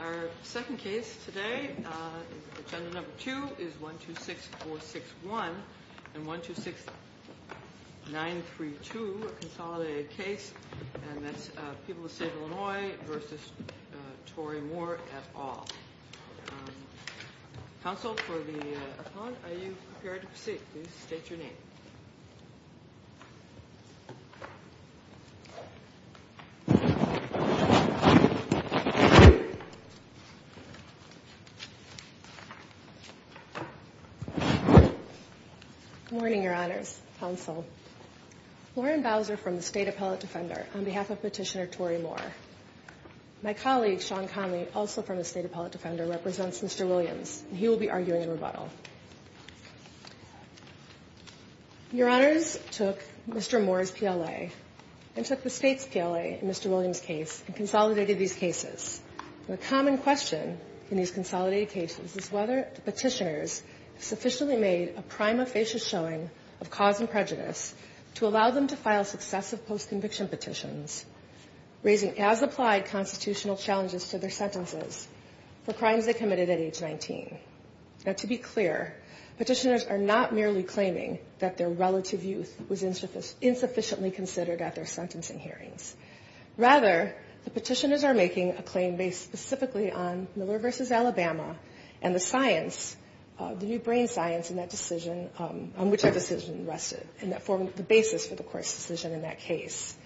Our second case today, agenda number two, is 126461 and 126932, a consolidated case, and that's People of the State of Illinois v. Tory Moore et al. Counsel for the appellant, are you prepared to proceed? Please state your name. Good morning, Your Honors. Counsel. Lauren Bowser from the State Appellate Defender, on behalf of Petitioner Tory Moore. My colleague, Sean Conley, also from the State Appellate Defender, represents Mr. Williams, and he will be arguing a rebuttal. Your Honors took Mr. Moore's PLA and took the State's PLA in Mr. Williams' case and consolidated these cases. The common question in these consolidated cases is whether the petitioners sufficiently made a prima facie showing of cause and prejudice to allow them to file successive post-conviction petitions, raising as applied constitutional challenges to their sentences for crimes they committed at age 19. Now, to be clear, petitioners are not merely claiming that their relative youth was insufficiently considered at their sentencing hearings. Rather, the petitioners are making a claim based specifically on Miller v. Alabama and the science, the new brain science in that decision, on which that decision rested, and that formed the basis for the court's decision in that case.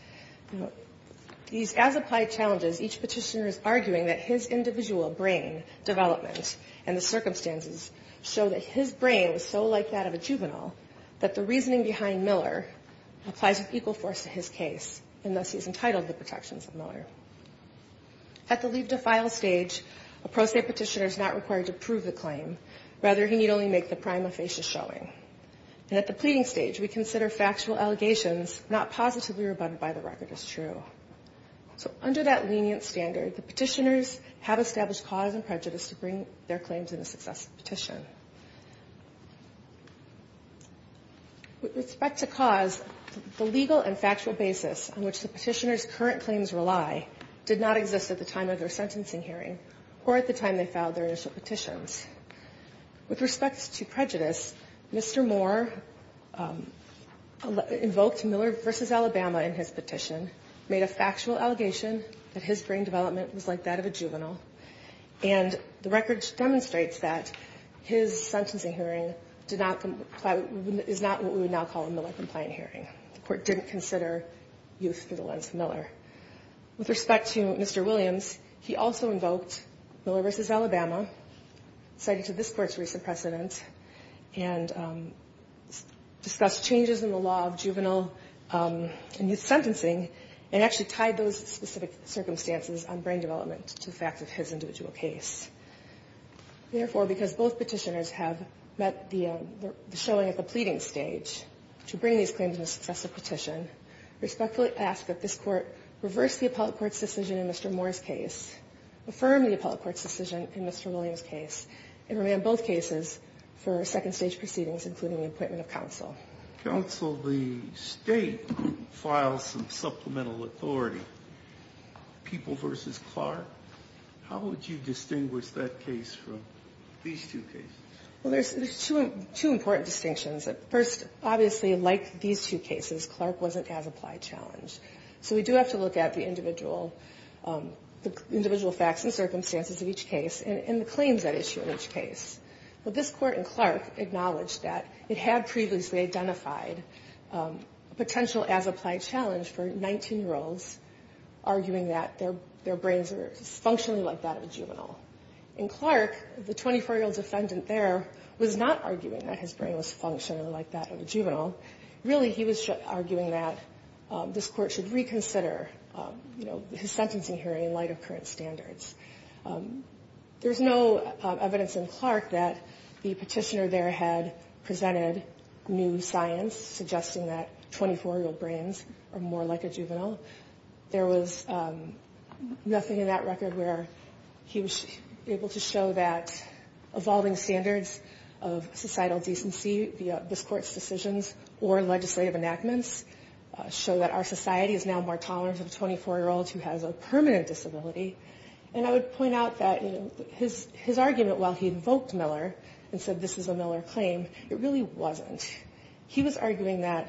These as-applied challenges, each petitioner is arguing that his individual brain development and the circumstances show that his brain was so like that of a juvenile that the reasoning behind Miller applies with equal force to his case, and thus he is entitled to the protections of Miller. At the leave-to-file stage, a pro se petitioner is not required to prove the claim. Rather, he need only make the prima facie showing. And at the pleading stage, we consider factual allegations not positively rebutted by the record as true. So under that lenient standard, the petitioners have established cause and prejudice to bring their claims in a successive petition. With respect to cause, the legal and factual basis on which the petitioners' current claims rely did not exist at the time of their sentencing hearing or at the time they filed their initial petitions. With respect to prejudice, Mr. Moore invoked Miller v. Alabama in his petition, made a factual allegation that his brain development was like that of a juvenile, and the record demonstrates that his sentencing hearing is not what we would now call a Miller-compliant hearing. The court didn't consider youth through the lens of Miller. With respect to Mr. Williams, he also invoked Miller v. Alabama, cited to this court's recent precedent, and discussed changes in the law of juvenile and youth sentencing, and actually tied those specific circumstances on brain development to the facts of his individual case. Therefore, because both petitioners have met the showing at the pleading stage to bring these claims in a successive petition, I respectfully ask that this court reverse the appellate court's decision in Mr. Moore's case, affirm the appellate court's decision in Mr. Williams' case, and remand both cases for second-stage proceedings, including the appointment of counsel. Counsel, the State files some supplemental authority. People v. Clark, how would you distinguish that case from these two cases? Well, there's two important distinctions. First, obviously, like these two cases, Clark wasn't as-applied challenged. So we do have to look at the individual facts and circumstances of each case and the claims that issue in each case. But this court in Clark acknowledged that it had previously identified a potential as-applied challenge for 19-year-olds arguing that their brains were functionally like that of a juvenile. In Clark, the 24-year-old defendant there was not arguing that his brain was functionally like that of a juvenile. Really, he was arguing that this court should reconsider, you know, his sentencing hearing in light of current standards. There's no evidence in Clark that the petitioner there had presented new science suggesting that 24-year-old brains are more like a juvenile. There was nothing in that record where he was able to show that evolving standards of societal decency via this court's decisions or legislative enactments show that our society is now more tolerant of a 24-year-old who has a permanent disability. And I would point out that his argument while he invoked Miller and said this is a Miller claim, it really wasn't. He was arguing that,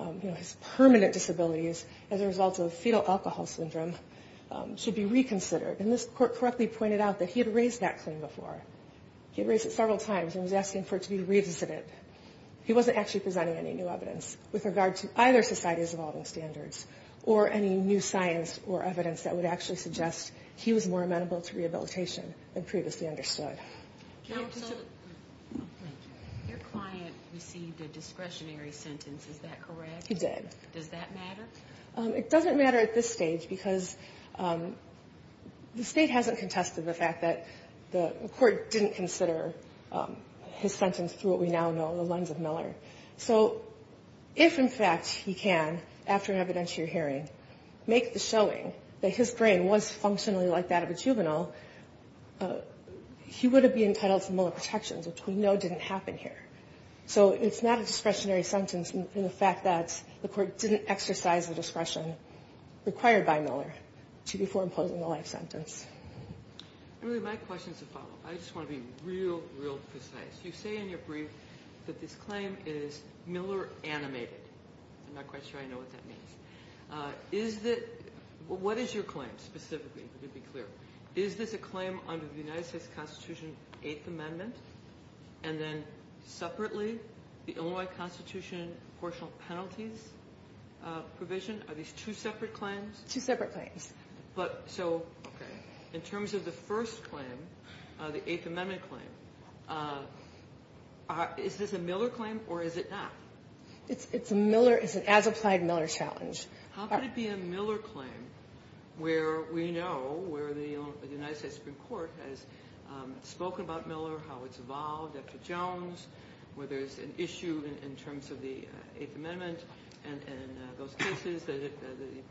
you know, his permanent disabilities as a result of fetal alcohol syndrome should be reconsidered. And this court correctly pointed out that he had raised that claim before. He raised it several times and was asking for it to be revisited. He wasn't actually presenting any new evidence with regard to either society's evolving standards or any new science or evidence that would actually suggest he was more amenable to rehabilitation than previously understood. Your client received a discretionary sentence. Is that correct? He did. Does that matter? It doesn't matter at this stage because the state hasn't contested the fact that the court didn't consider his sentence through what we now know, the lens of Miller. So if, in fact, he can, after an evidentiary hearing, make the showing that his brain was functionally like that of a juvenile, he would have been entitled to Miller protections, which we know didn't happen here. So it's not a discretionary sentence in the fact that the court didn't exercise the discretion required by Miller before imposing the life sentence. My question is a follow-up. I just want to be real, real precise. You say in your brief that this claim is Miller animated. I'm not quite sure I know what that means. What is your claim, specifically, to be clear? Is this a claim under the United States Constitution, Eighth Amendment, and then separately the Illinois Constitution proportional penalties provision? Are these two separate claims? Two separate claims. Okay. In terms of the first claim, the Eighth Amendment claim, is this a Miller claim or is it not? It's a Miller. It's an as-applied Miller challenge. How could it be a Miller claim where we know, where the United States Supreme Court has spoken about Miller, how it's evolved after Jones, where there's an issue in terms of the Eighth Amendment and those cases, the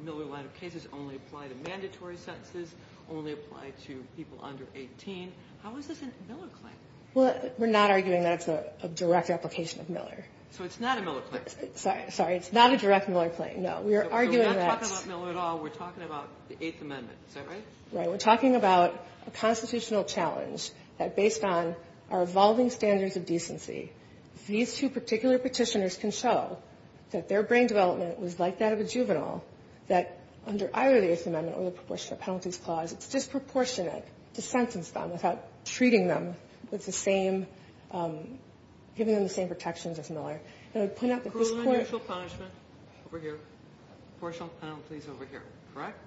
Miller line of cases only apply to mandatory sentences, only apply to people under 18. How is this a Miller claim? Well, we're not arguing that it's a direct application of Miller. So it's not a Miller claim? Sorry. Sorry. It's not a direct Miller claim. No. We are arguing that... So we're not talking about Miller at all. We're talking about the Eighth Amendment. Is that right? Right. We're talking about a constitutional challenge that, based on our evolving standards of decency, these two particular petitioners can show that their brain development was like that of a juvenile, that under either the Eighth Amendment or the proportional penalties clause, it's disproportionate to sentence them without treating them with the same, giving them the same protections as Miller. And I'd point out that this Court... Cruel and unusual punishment over here, proportional penalties over here, correct?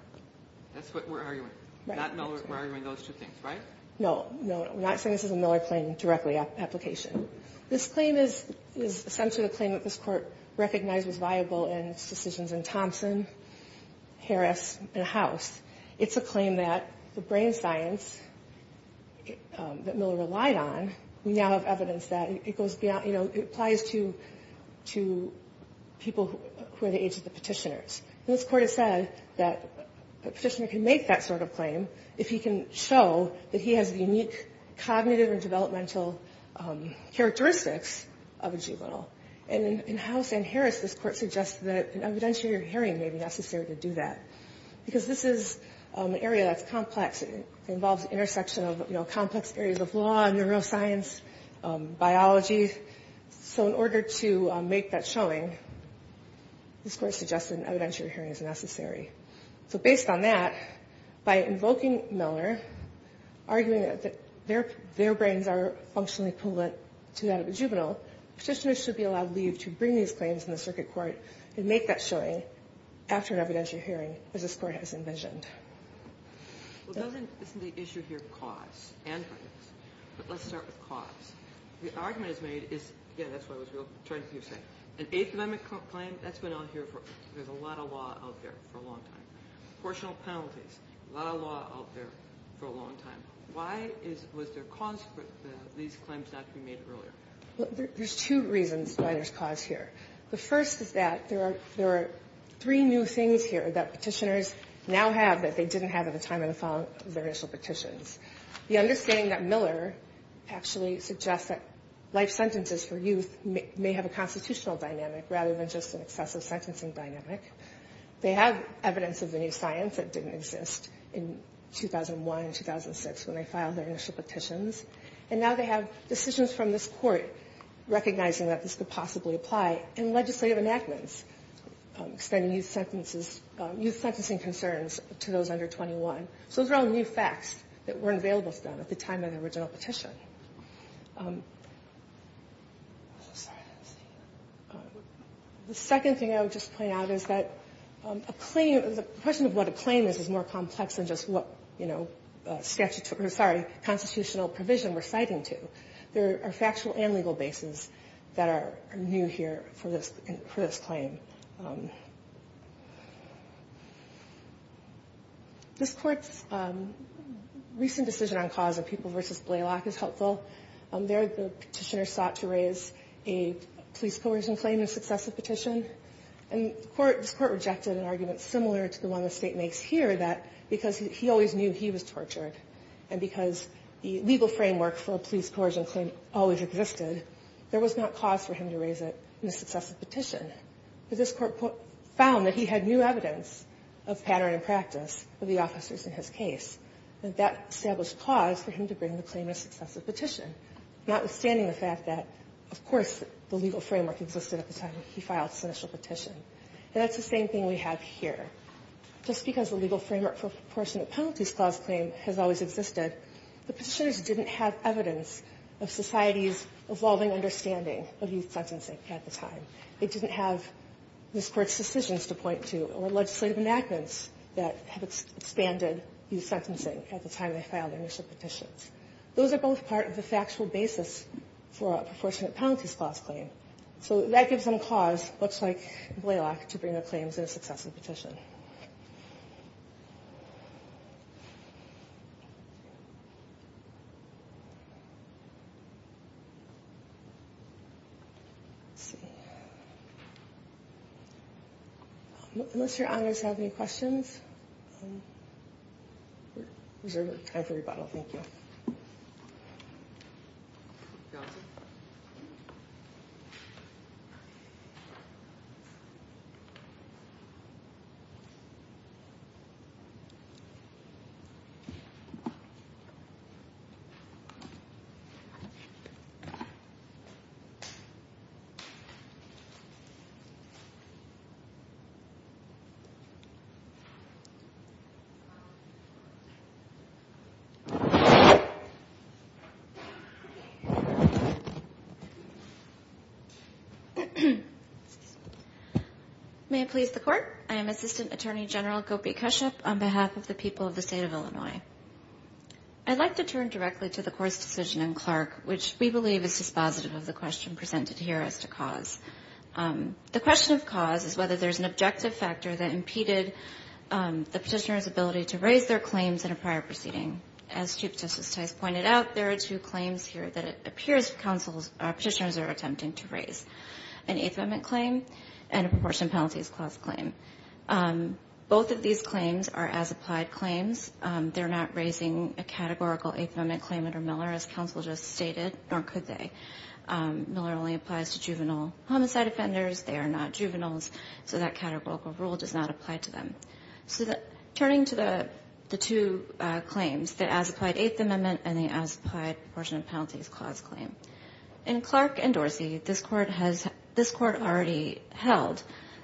That's what we're arguing. Right. That's what we're arguing. We're arguing those two things, right? No. No. We're not saying this is a Miller claim directly application. This claim is essentially the claim that this Court recognized was viable in its decisions in Thompson, Harris, and House. It's a claim that the brain science that Miller relied on, we now have evidence that it goes beyond... You know, it applies to people who are the age of the petitioners. And this Court has said that a petitioner can make that sort of claim if he can show that he has the unique cognitive and developmental characteristics of a juvenile. And in House and Harris, this Court suggested that an evidentiary hearing may be necessary to do that, because this is an area that's complex. It involves an intersection of, you know, complex areas of law, neuroscience, biology. So in order to make that showing, this Court suggested an evidentiary hearing is necessary. So based on that, by invoking Miller, arguing that their brains are functionally equivalent to that of a juvenile, petitioners should be allowed leave to bring these claims in the circuit court and make that showing after an evidentiary hearing, as this Court has envisioned. Well, doesn't the issue here cause and prevents? But let's start with cause. The argument is made is, again, that's what I was trying to hear you say. An Eighth Amendment claim, that's been out here for a lot of law out there for a long time. Proportional penalties, a lot of law out there for a long time. Why was there cause for these claims not to be made earlier? There's two reasons why there's cause here. The first is that there are three new things here that petitioners now have that they didn't have at the time of the filing of their initial petitions. The understanding that Miller actually suggests that life sentences for youth may have a constitutional dynamic rather than just an excessive sentencing dynamic. They have evidence of the new science that didn't exist in 2001 and 2006 when they filed their initial petitions. And now they have decisions from this Court recognizing that this could possibly apply in legislative enactments, extending youth sentences, youth sentencing concerns to those under 21. So those are all new facts that weren't available to them at the time of the original petition. The second thing I would just point out is that a claim, the question of what a claim is, is more complex than just what constitutional provision we're citing to. There are factual and legal bases that are new here for this claim. This Court's recent decision on cause of People v. Blaylock is helpful. There the petitioner sought to raise a police coercion claim in a successive petition. And this Court rejected an argument similar to the one the State makes here that because he always knew he was tortured and because the legal framework for a police coercion claim always existed, there was not cause for him to raise it in a successive petition. But this Court found that he had new evidence of pattern and practice of the officers in his case. And that established cause for him to bring the claim in a successive petition, notwithstanding the fact that, of course, the legal framework existed at the time when he filed his initial petition. And that's the same thing we have here. Just because the legal framework for a proportionate penalties clause claim has always existed, the petitioners didn't have evidence of society's evolving understanding of youth sentencing at the time. They didn't have this Court's decisions to point to or legislative enactments that have expanded youth sentencing at the time they filed initial petitions. Those are both part of the factual basis for a proportionate penalties clause claim. So that gives them cause, much like Blalock, to bring their claims in a successive petition. Let's see. Unless your honors have any questions. Thanks, everybody. Thank you. May it please the Court. I am Assistant Attorney General Gopi Kashyap on behalf of the people of the state of Illinois. I'd like to turn directly to the Court's decision in Clark, which we believe is dispositive of the question presented here as to cause. The question of cause is whether there's an objective factor that impeded the petitioners' ability to raise their claims in a prior proceeding. As Chief Justice Tice pointed out, there are two claims here that it appears petitioners are attempting to raise, an Eighth Amendment claim and a proportionate penalties clause claim. Both of these claims are as-applied claims. They're not raising a categorical Eighth Amendment claim under Miller, as counsel just stated, nor could they. Miller only applies to juvenile homicide offenders. They are not juveniles, so that categorical rule does not apply to them. So turning to the two claims, the as-applied Eighth Amendment and the as-applied proportionate penalties clause claim. In Clark and Dorsey, this Court already held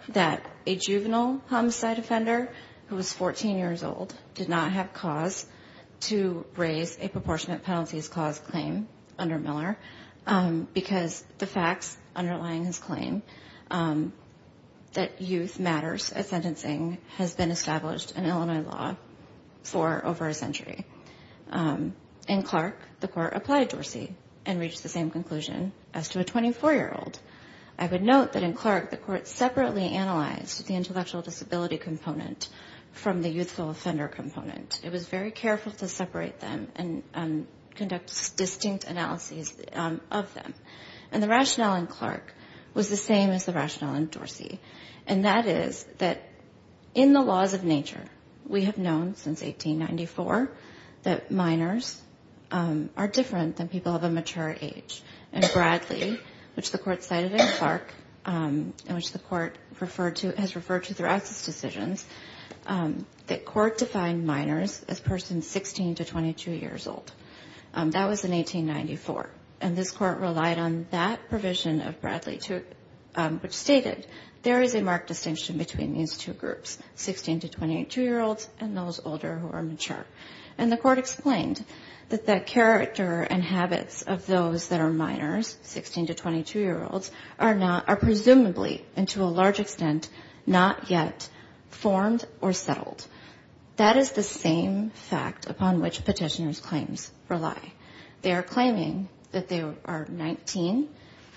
that a juvenile homicide offender who was 14 years old did not have cause to raise a proportionate penalties clause claim under Miller because the facts underlying his claim that youth matters at sentencing has been established in Illinois law for over a century. In Clark, the Court applied Dorsey and reached the same conclusion as to a 24-year-old. I would note that in Clark, the Court separately analyzed the intellectual disability component from the youthful offender component. It was very careful to separate them and conduct distinct analyses of them. And the rationale in Clark was the same as the rationale in Dorsey, and that is that in the laws of nature, we have known since 1894 that minors are different than people of a mature age. And Bradley, which the Court cited in Clark and which the Court has referred to throughout its decisions, the Court defined minors as persons 16 to 22 years old. That was in 1894. And this Court relied on that provision of Bradley, which stated there is a marked distinction between these two groups, 16 to 22-year-olds and those older who are mature. And the Court explained that the character and habits of those that are minors, 16 to 22-year-olds, are presumably and to a large extent not yet formed or settled. That is the same fact upon which petitioner's claims rely. They are claiming that they are 19,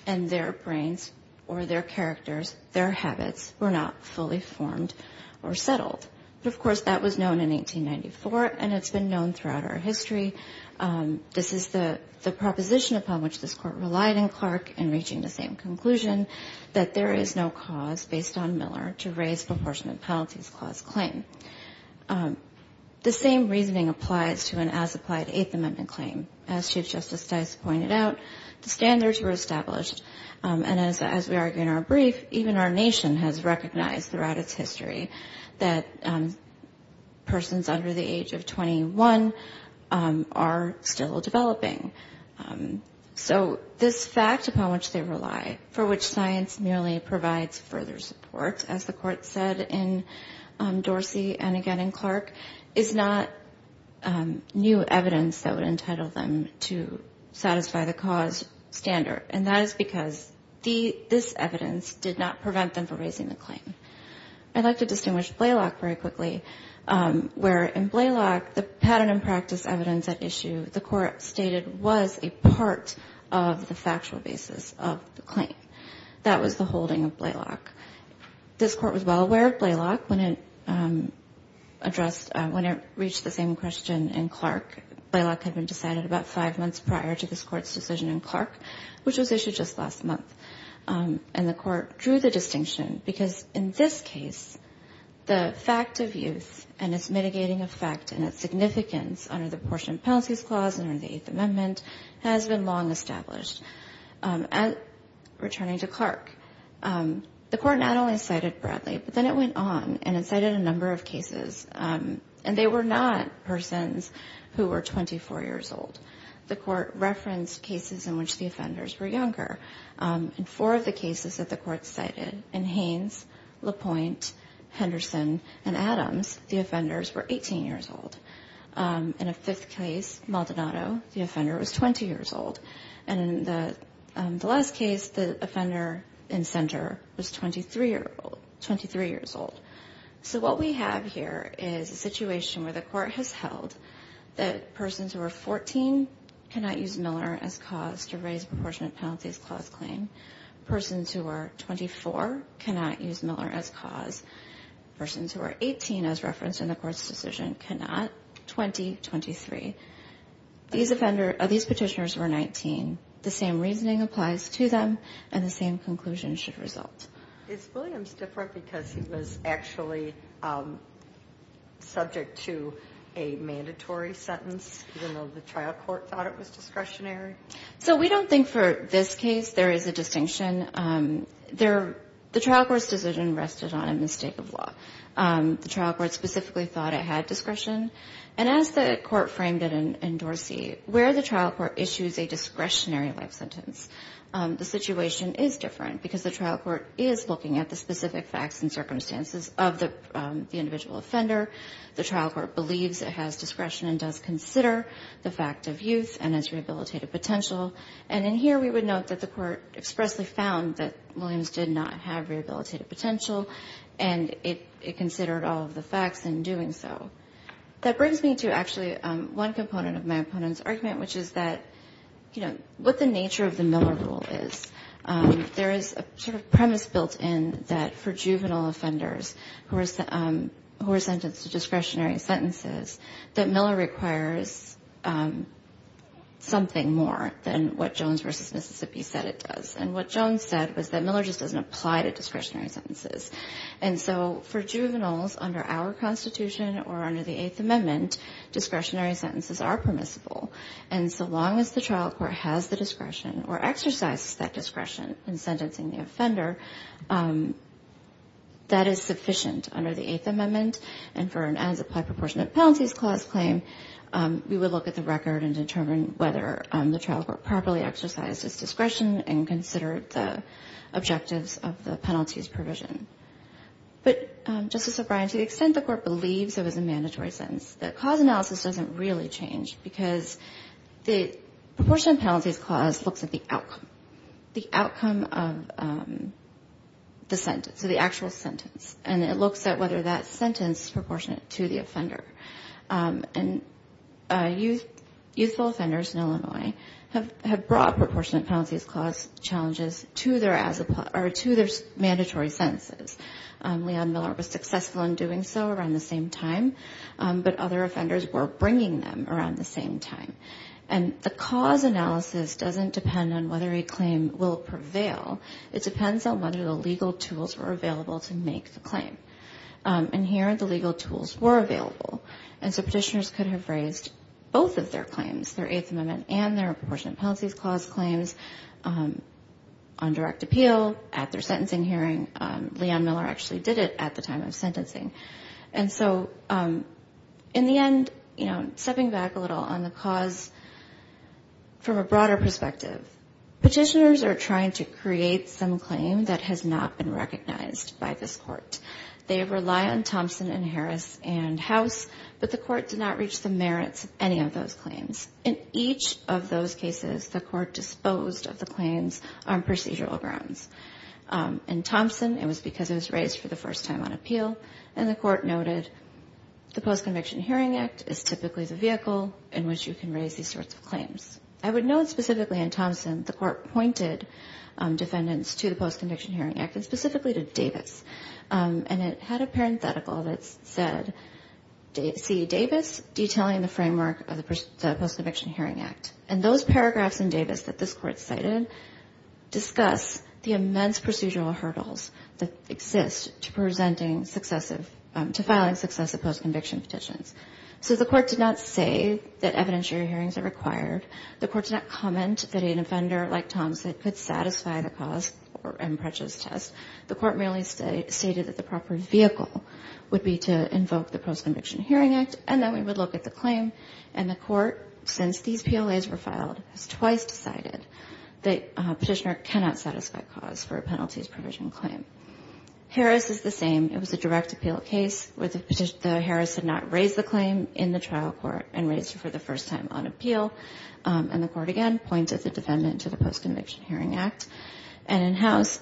and their brains or their characters, their habits were not fully formed or settled. But, of course, that was known in 1894, and it's been known throughout our history. This is the proposition upon which this Court relied in Clark in reaching the same conclusion, that there is no cause based on Miller to raise proportionate penalties clause claim. The same reasoning applies to an as-applied Eighth Amendment claim. As Chief Justice Dice pointed out, the standards were established. And as we argue in our brief, even our nation has recognized throughout its history that persons under the age of 21 are still developing. So this fact upon which they rely, for which science merely provides further support, as the Court said in Dorsey and again in Clark, is not new evidence that would entitle them to satisfy the cause standard. And that is because this evidence did not prevent them from raising the claim. I'd like to distinguish Blaylock very quickly, where in Blaylock the pattern and practice evidence at issue, the Court stated was a part of the factual basis of the claim. That was the holding of Blaylock. This Court was well aware of Blaylock when it reached the same question in Clark. Blaylock had been decided about five months prior to this Court's decision in Clark, which was issued just last month. And the Court drew the distinction because in this case the fact of youth and its mitigating effect and its significance under the Portion Penalties Clause and under the Eighth Amendment has been long established. Returning to Clark, the Court not only cited Bradley, but then it went on and it cited a number of cases. And they were not persons who were 24 years old. The Court referenced cases in which the offenders were younger. In four of the cases that the Court cited, in Haynes, LaPointe, Henderson, and Adams, the offenders were 18 years old. In a fifth case, Maldonado, the offender was 20 years old. And in the last case, the offender in center was 23 years old. So what we have here is a situation where the Court has held that persons who are 14 cannot use Miller as cause to raise the Portion Penalties Clause claim. Persons who are 24 cannot use Miller as cause. Persons who are 18, as referenced in the Court's decision, cannot. 20, 23. These petitioners were 19. The same reasoning applies to them, and the same conclusion should result. Is Williams different because he was actually subject to a mandatory sentence, even though the trial court thought it was discretionary? So we don't think for this case there is a distinction. The trial court's decision rested on a mistake of law. The trial court specifically thought it had discretion. And as the Court framed it in Dorsey, where the trial court issues a discretionary life sentence, the situation is different because the trial court is looking at the specific facts and circumstances of the individual offender. The trial court believes it has discretion and does consider the fact of youth and its rehabilitative potential. And in here we would note that the Court expressly found that Williams did not have rehabilitative potential, and it considered all of the facts in doing so. That brings me to actually one component of my opponent's argument, which is that, you know, what the nature of the Miller rule is. There is a sort of premise built in that for juvenile offenders who are sentenced to discretionary sentences, that Miller requires something more than what Jones v. Mississippi said it does. And what Jones said was that Miller just doesn't apply to discretionary sentences. And so for juveniles under our Constitution or under the Eighth Amendment, discretionary sentences are permissible. And so long as the trial court has the discretion or exercises that discretion in sentencing the offender, that is sufficient under the Eighth Amendment. And for an as-applied proportionate penalties clause claim, we would look at the record and determine whether the trial court properly exercised its discretion and considered the objectives of the penalties provision. But, Justice O'Brien, to the extent the Court believes it was a mandatory sentence, the cause analysis doesn't really change because the proportionate penalties clause looks at the outcome, the outcome of the sentence, so the actual sentence, and it looks at whether that sentence is proportionate to the offender. And youthful offenders in Illinois have brought proportionate penalties clause challenges to their mandatory sentences. Leon Miller was successful in doing so around the same time. But other offenders were bringing them around the same time. And the cause analysis doesn't depend on whether a claim will prevail. It depends on whether the legal tools were available to make the claim. And here the legal tools were available. And so petitioners could have raised both of their claims, their Eighth Amendment and their proportionate penalties clause claims, on direct appeal, at their sentencing hearing. Leon Miller actually did it at the time of sentencing. And so in the end, you know, stepping back a little on the cause from a broader perspective, petitioners are trying to create some claim that has not been recognized by this Court. They rely on Thompson and Harris and House, but the Court did not reach the merits of any of those claims. In each of those cases, the Court disposed of the claims on procedural grounds. In Thompson, it was because it was raised for the first time on appeal, and the Court noted the Post-Conviction Hearing Act is typically the vehicle in which you can raise these sorts of claims. I would note specifically in Thompson, the Court pointed defendants to the Post-Conviction Hearing Act, and specifically to Davis. And it had a parenthetical that said, see, Davis detailing the framework of the Post-Conviction Hearing Act. And those paragraphs in Davis that this Court cited discuss the immense procedural hurdles that exist to presenting successive – to filing successive post-conviction petitions. So the Court did not say that evidentiary hearings are required. The Court did not comment that an offender like Thompson could satisfy the cause in Pritchett's test. The Court merely stated that the proper vehicle would be to invoke the Post-Conviction Hearing Act, and then we would look at the claim. And the Court, since these PLAs were filed, has twice decided that a petitioner cannot satisfy cause for a penalties provision claim. Harris is the same. It was a direct appeal case where the Harris did not raise the claim in the trial court and raised it for the first time on appeal. And the Court, again, pointed the defendant to the Post-Conviction Hearing Act. And in house,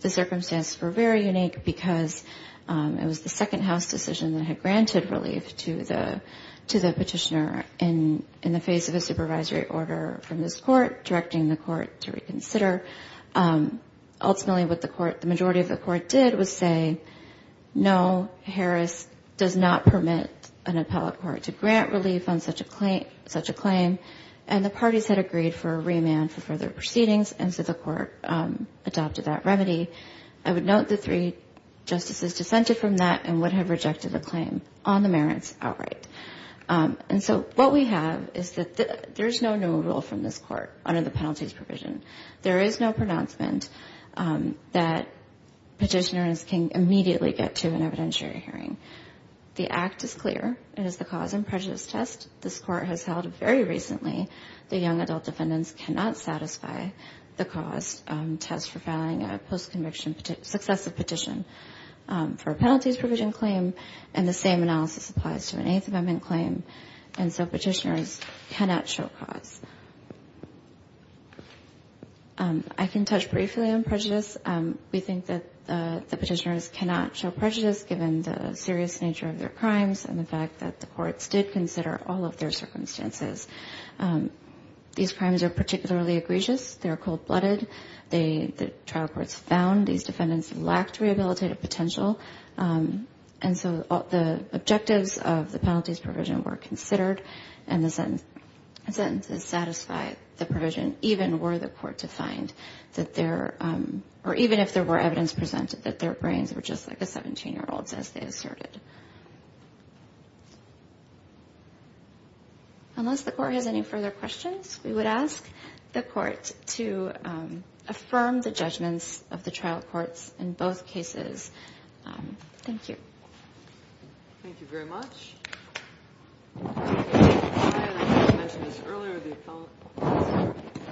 the circumstances were very unique because it was the second house decision that had granted relief to the petitioner in the face of a supervisory order from this Court directing the Court to reconsider. Ultimately, what the Court – the majority of the Court did was say, no, Harris does not permit an appellate court to grant relief on such a claim. And the parties had agreed for a remand for further proceedings, and so the Court adopted that remedy. I would note the three justices dissented from that and would have rejected the claim on the merits outright. And so what we have is that there is no new rule from this Court under the penalties provision. There is no pronouncement that petitioners can immediately get to an evidentiary hearing. The Act is clear. It is the cause in Pritchett's test. This Court has held very recently that young adult defendants cannot satisfy the cause test for filing a post-conviction successive petition for a penalties provision claim. And the same analysis applies to an Eighth Amendment claim. And so petitioners cannot show cause. I can touch briefly on prejudice. We think that the petitioners cannot show prejudice given the serious nature of their crimes and the fact that the courts did consider all of their circumstances. These crimes are particularly egregious. They are cold-blooded. The trial courts found these defendants lacked rehabilitative potential. And so the objectives of the penalties provision were considered, and the sentences satisfied the provision even were the court to find that there or even if there were evidence presented that their brains were just like a 17-year-old's as they asserted. Unless the Court has any further questions, we would ask the Court to affirm the judgments of the trial courts in both cases. Thank you. Thank you very much. As I mentioned earlier, the appellant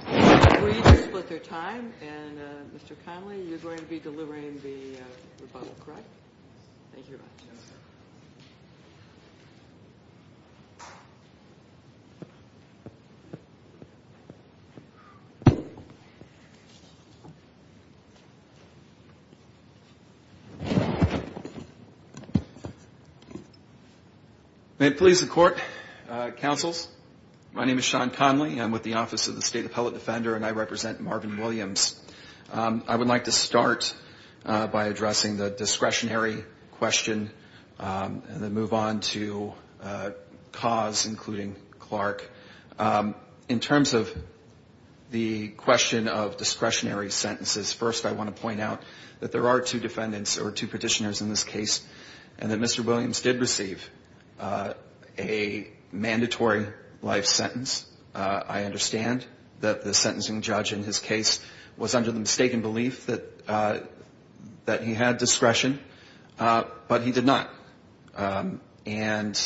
has agreed to split their time. And, Mr. Connolly, you're going to be delivering the rebuttal, correct? Thank you very much. Yes, sir. May it please the Court, counsels. My name is Sean Connolly. I'm with the Office of the State Appellate Defender, and I represent Marvin Williams. I would like to start by addressing the discretionary question and then move on to cause, including Clark. In terms of the question of discretionary sentences, first I want to point out that there are two defendants or two petitioners in this case, and that Mr. Williams did receive a mandatory life sentence. I understand that the sentencing judge in his case was under the mistaken belief that he had discretion, but he did not. And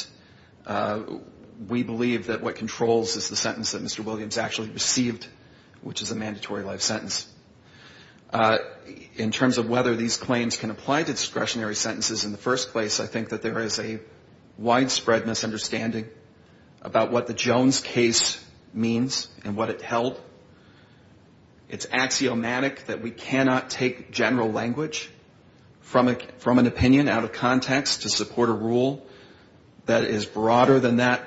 we believe that what controls is the sentence that Mr. Williams actually received, which is a mandatory life sentence. In terms of whether these claims can apply to discretionary sentences in the first place, I think that there is a widespread misunderstanding about what the Jones case means and what it held. It's axiomatic that we cannot take general language from an opinion out of context to support a rule that is broader than that,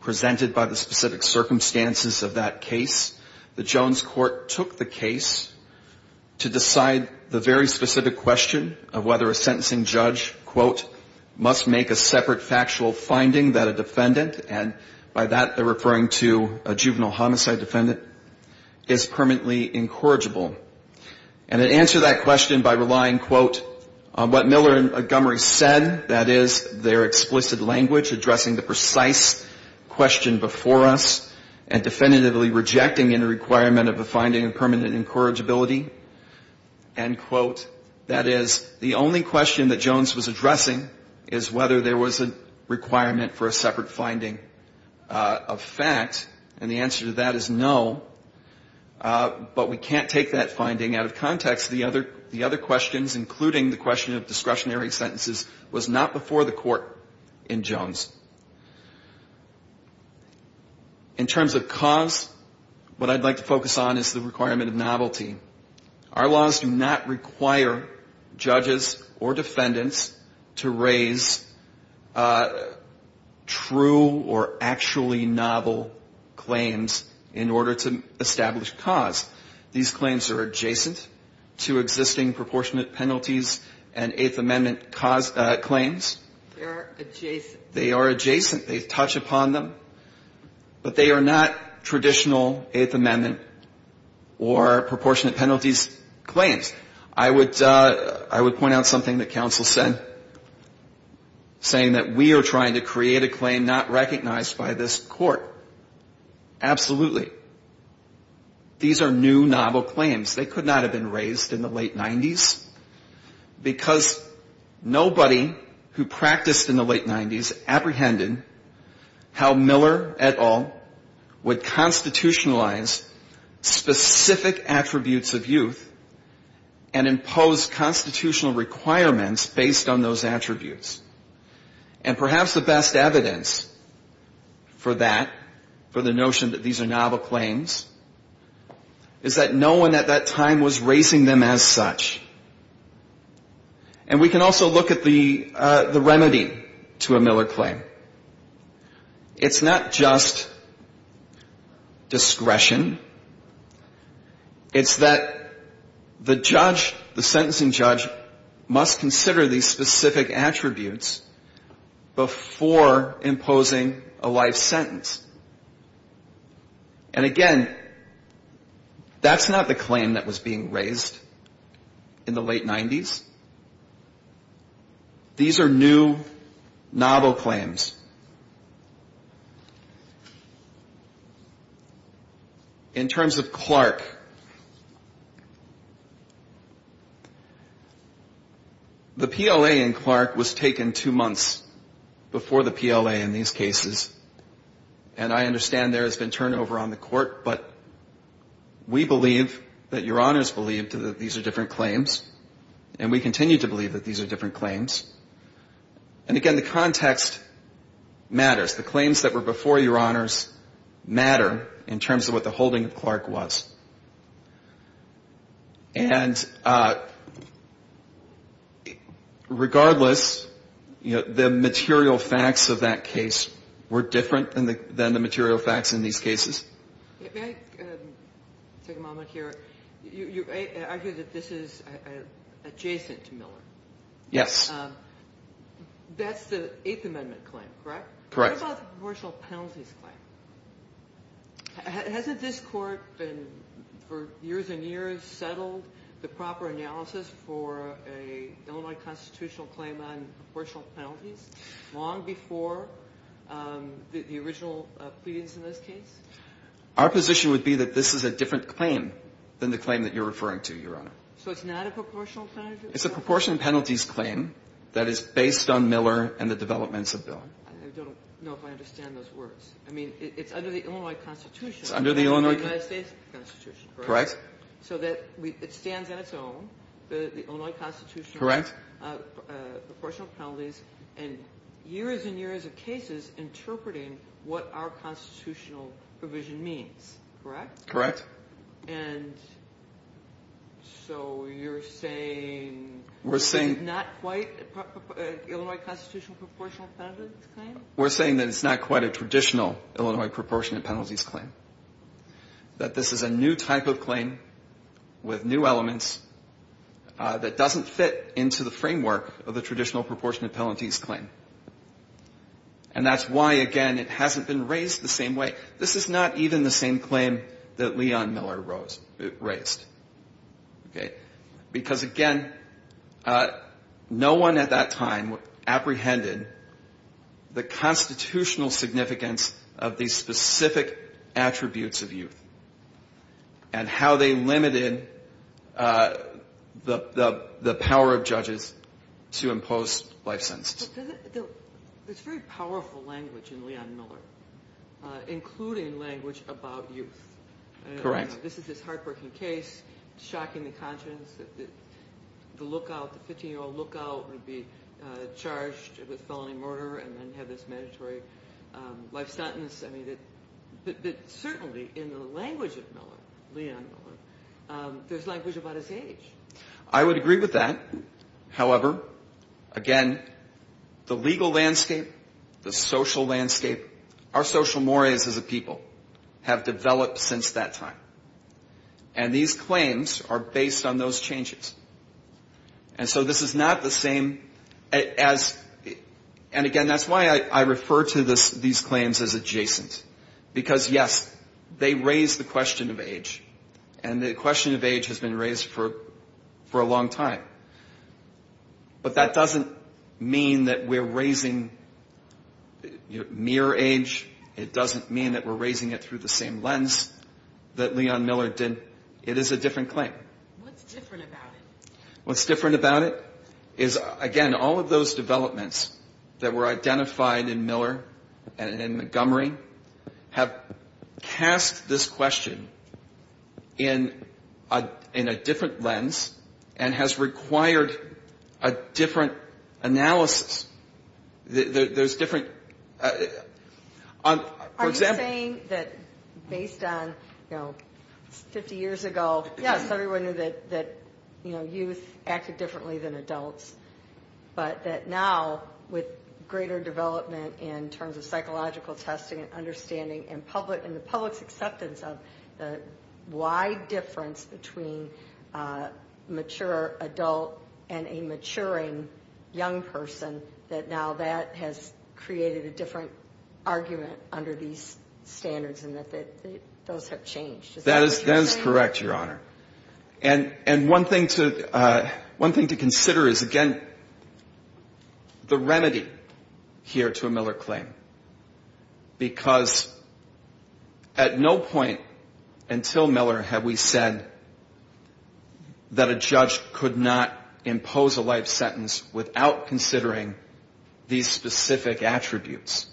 presented by the specific circumstances of that case. The Jones court took the case to decide the very specific question of whether a sentencing judge, quote, must make a separate factual finding that a defendant, and by that they're referring to a juvenile homicide defendant, is permanently incorrigible. And it answered that question by relying, quote, on what Miller and Montgomery said, that is, their explicit language addressing the precise question before us and definitively rejecting any requirement of a finding of permanent incorrigibility. End quote. That is, the only question that Jones was addressing is whether there was a requirement for a separate finding of fact. And the answer to that is no. But we can't take that finding out of context. The other questions, including the question of discretionary sentences, was not before the court in Jones. In terms of cause, what I'd like to focus on is the requirement of novelty. Our laws do not require judges or defendants to raise true or actually novel claims in order to establish cause. These claims are adjacent to existing proportionate penalties and Eighth Amendment claims. They are adjacent. They touch upon them. But they are not traditional Eighth Amendment or proportionate penalties claims. I would point out something that counsel said, saying that we are trying to create a claim not recognized by this court. Absolutely. These are new, novel claims. They could not have been raised in the late 90s because nobody who practiced in the late 90s apprehended how Miller et al. would constitutionalize specific attributes of youth and impose constitutional requirements based on those attributes. And perhaps the best evidence for that, for the notion that these are novel claims, is that no one at that time was raising them as such. And we can also look at the remedy to a Miller claim. It's not just discretion. It's that the judge, the sentencing judge, must consider these specific attributes before imposing a life sentence. And, again, that's not the claim that was being raised in the late 90s. These are new, novel claims. In terms of Clark, the PLA in Clark was taken two months before the PLA in these cases. And I understand there has been turnover on the court, but we believe that Your Honors believe that these are different claims. And we continue to believe that these are different claims. And, again, the context matters. The claims that were before Your Honors matter in terms of what the holding of Clark was. And regardless, the material facts of that case were different than the material facts in these cases. May I take a moment here? You argued that this is adjacent to Miller. Yes. That's the Eighth Amendment claim, correct? Correct. What about the proportional penalties claim? Hasn't this Court, for years and years, settled the proper analysis for a Illinois constitutional claim on proportional penalties long before the original pleadings in this case? Our position would be that this is a different claim than the claim that you're referring to, Your Honor. So it's not a proportional penalty? It's a proportional penalties claim that is based on Miller and the developments of Miller. I don't know if I understand those words. I mean, it's under the Illinois Constitution. It's under the Illinois Constitution. The United States Constitution, correct? Correct. So it stands on its own, the Illinois Constitution. Correct. Proportional penalties, and years and years of cases interpreting what our constitutional provision means, correct? Correct. And so you're saying… We're saying… Illinois constitutional proportional penalties claim? We're saying that it's not quite a traditional Illinois proportionate penalties claim, that this is a new type of claim with new elements that doesn't fit into the framework of the traditional proportionate penalties claim. And that's why, again, it hasn't been raised the same way. This is not even the same claim that Leon Miller raised. Okay? Because, again, no one at that time apprehended the constitutional significance of these specific attributes of youth and how they limited the power of judges to impose life sentences. There's very powerful language in Leon Miller, including language about youth. Correct. This is this hard-working case, shocking the conscience that the lookout, the 15-year-old lookout, would be charged with felony murder and then have this mandatory life sentence. I mean, but certainly in the language of Miller, Leon Miller, there's language about his age. I would agree with that. However, again, the legal landscape, the social landscape, our social mores as a people have developed since that time. And these claims are based on those changes. And so this is not the same as… And, again, that's why I refer to these claims as adjacent, because, yes, they raise the question of age. And the question of age has been raised for a long time. But that doesn't mean that we're raising mere age. It doesn't mean that we're raising it through the same lens that Leon Miller did. It is a different claim. What's different about it? What's different about it is, again, all of those developments that were identified in Miller and in Montgomery have cast this question in a different lens and has required a different analysis. There's different, for example… Are you saying that based on, you know, 50 years ago, yes, everyone knew that, you know, youth acted differently than adults, but that now with greater development in terms of psychological testing and understanding and the public's acceptance of the wide difference between a mature adult and a maturing young person, that now that has created a different argument under these standards and that those have changed? Is that what you're saying? That is correct, Your Honor. And one thing to consider is, again, the remedy here to a Miller claim. Because at no point until Miller have we said that a judge could not impose a life sentence without considering these specific attributes.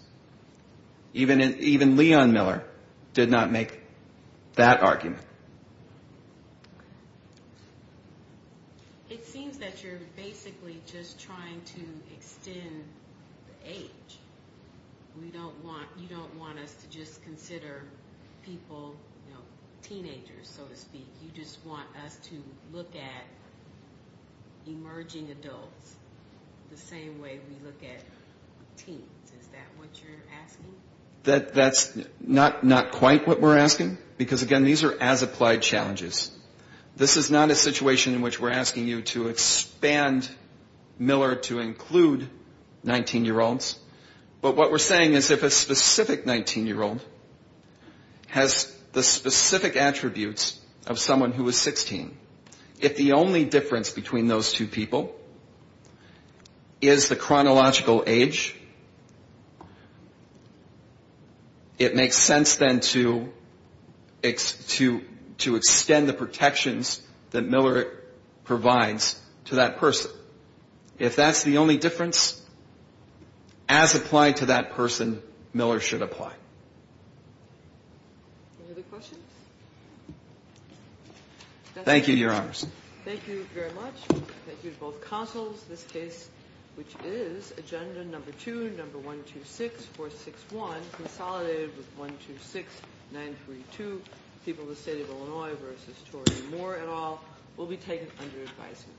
Even Leon Miller did not make that argument. It seems that you're basically just trying to extend the age. You don't want us to just consider people, you know, teenagers, so to speak. You just want us to look at emerging adults the same way we look at teens. Is that what you're asking? That's not quite what we're asking, because, again, these are as-applied challenges. This is not a situation in which we're asking you to expand Miller to include 19-year-olds. But what we're saying is if a specific 19-year-old has the specific attributes of someone who is 16, if the only difference between those two people is the chronological age, it makes sense then to extend the protections that Miller provides to that person. If that's the only difference, as applied to that person, Miller should apply. Any other questions? Thank you, Your Honor. Thank you very much. Thank you to both counsels. This case, which is agenda number 2, number 126461, consolidated with 126932, people of the State of Illinois v. Tori Moore et al., will be taken under advisement.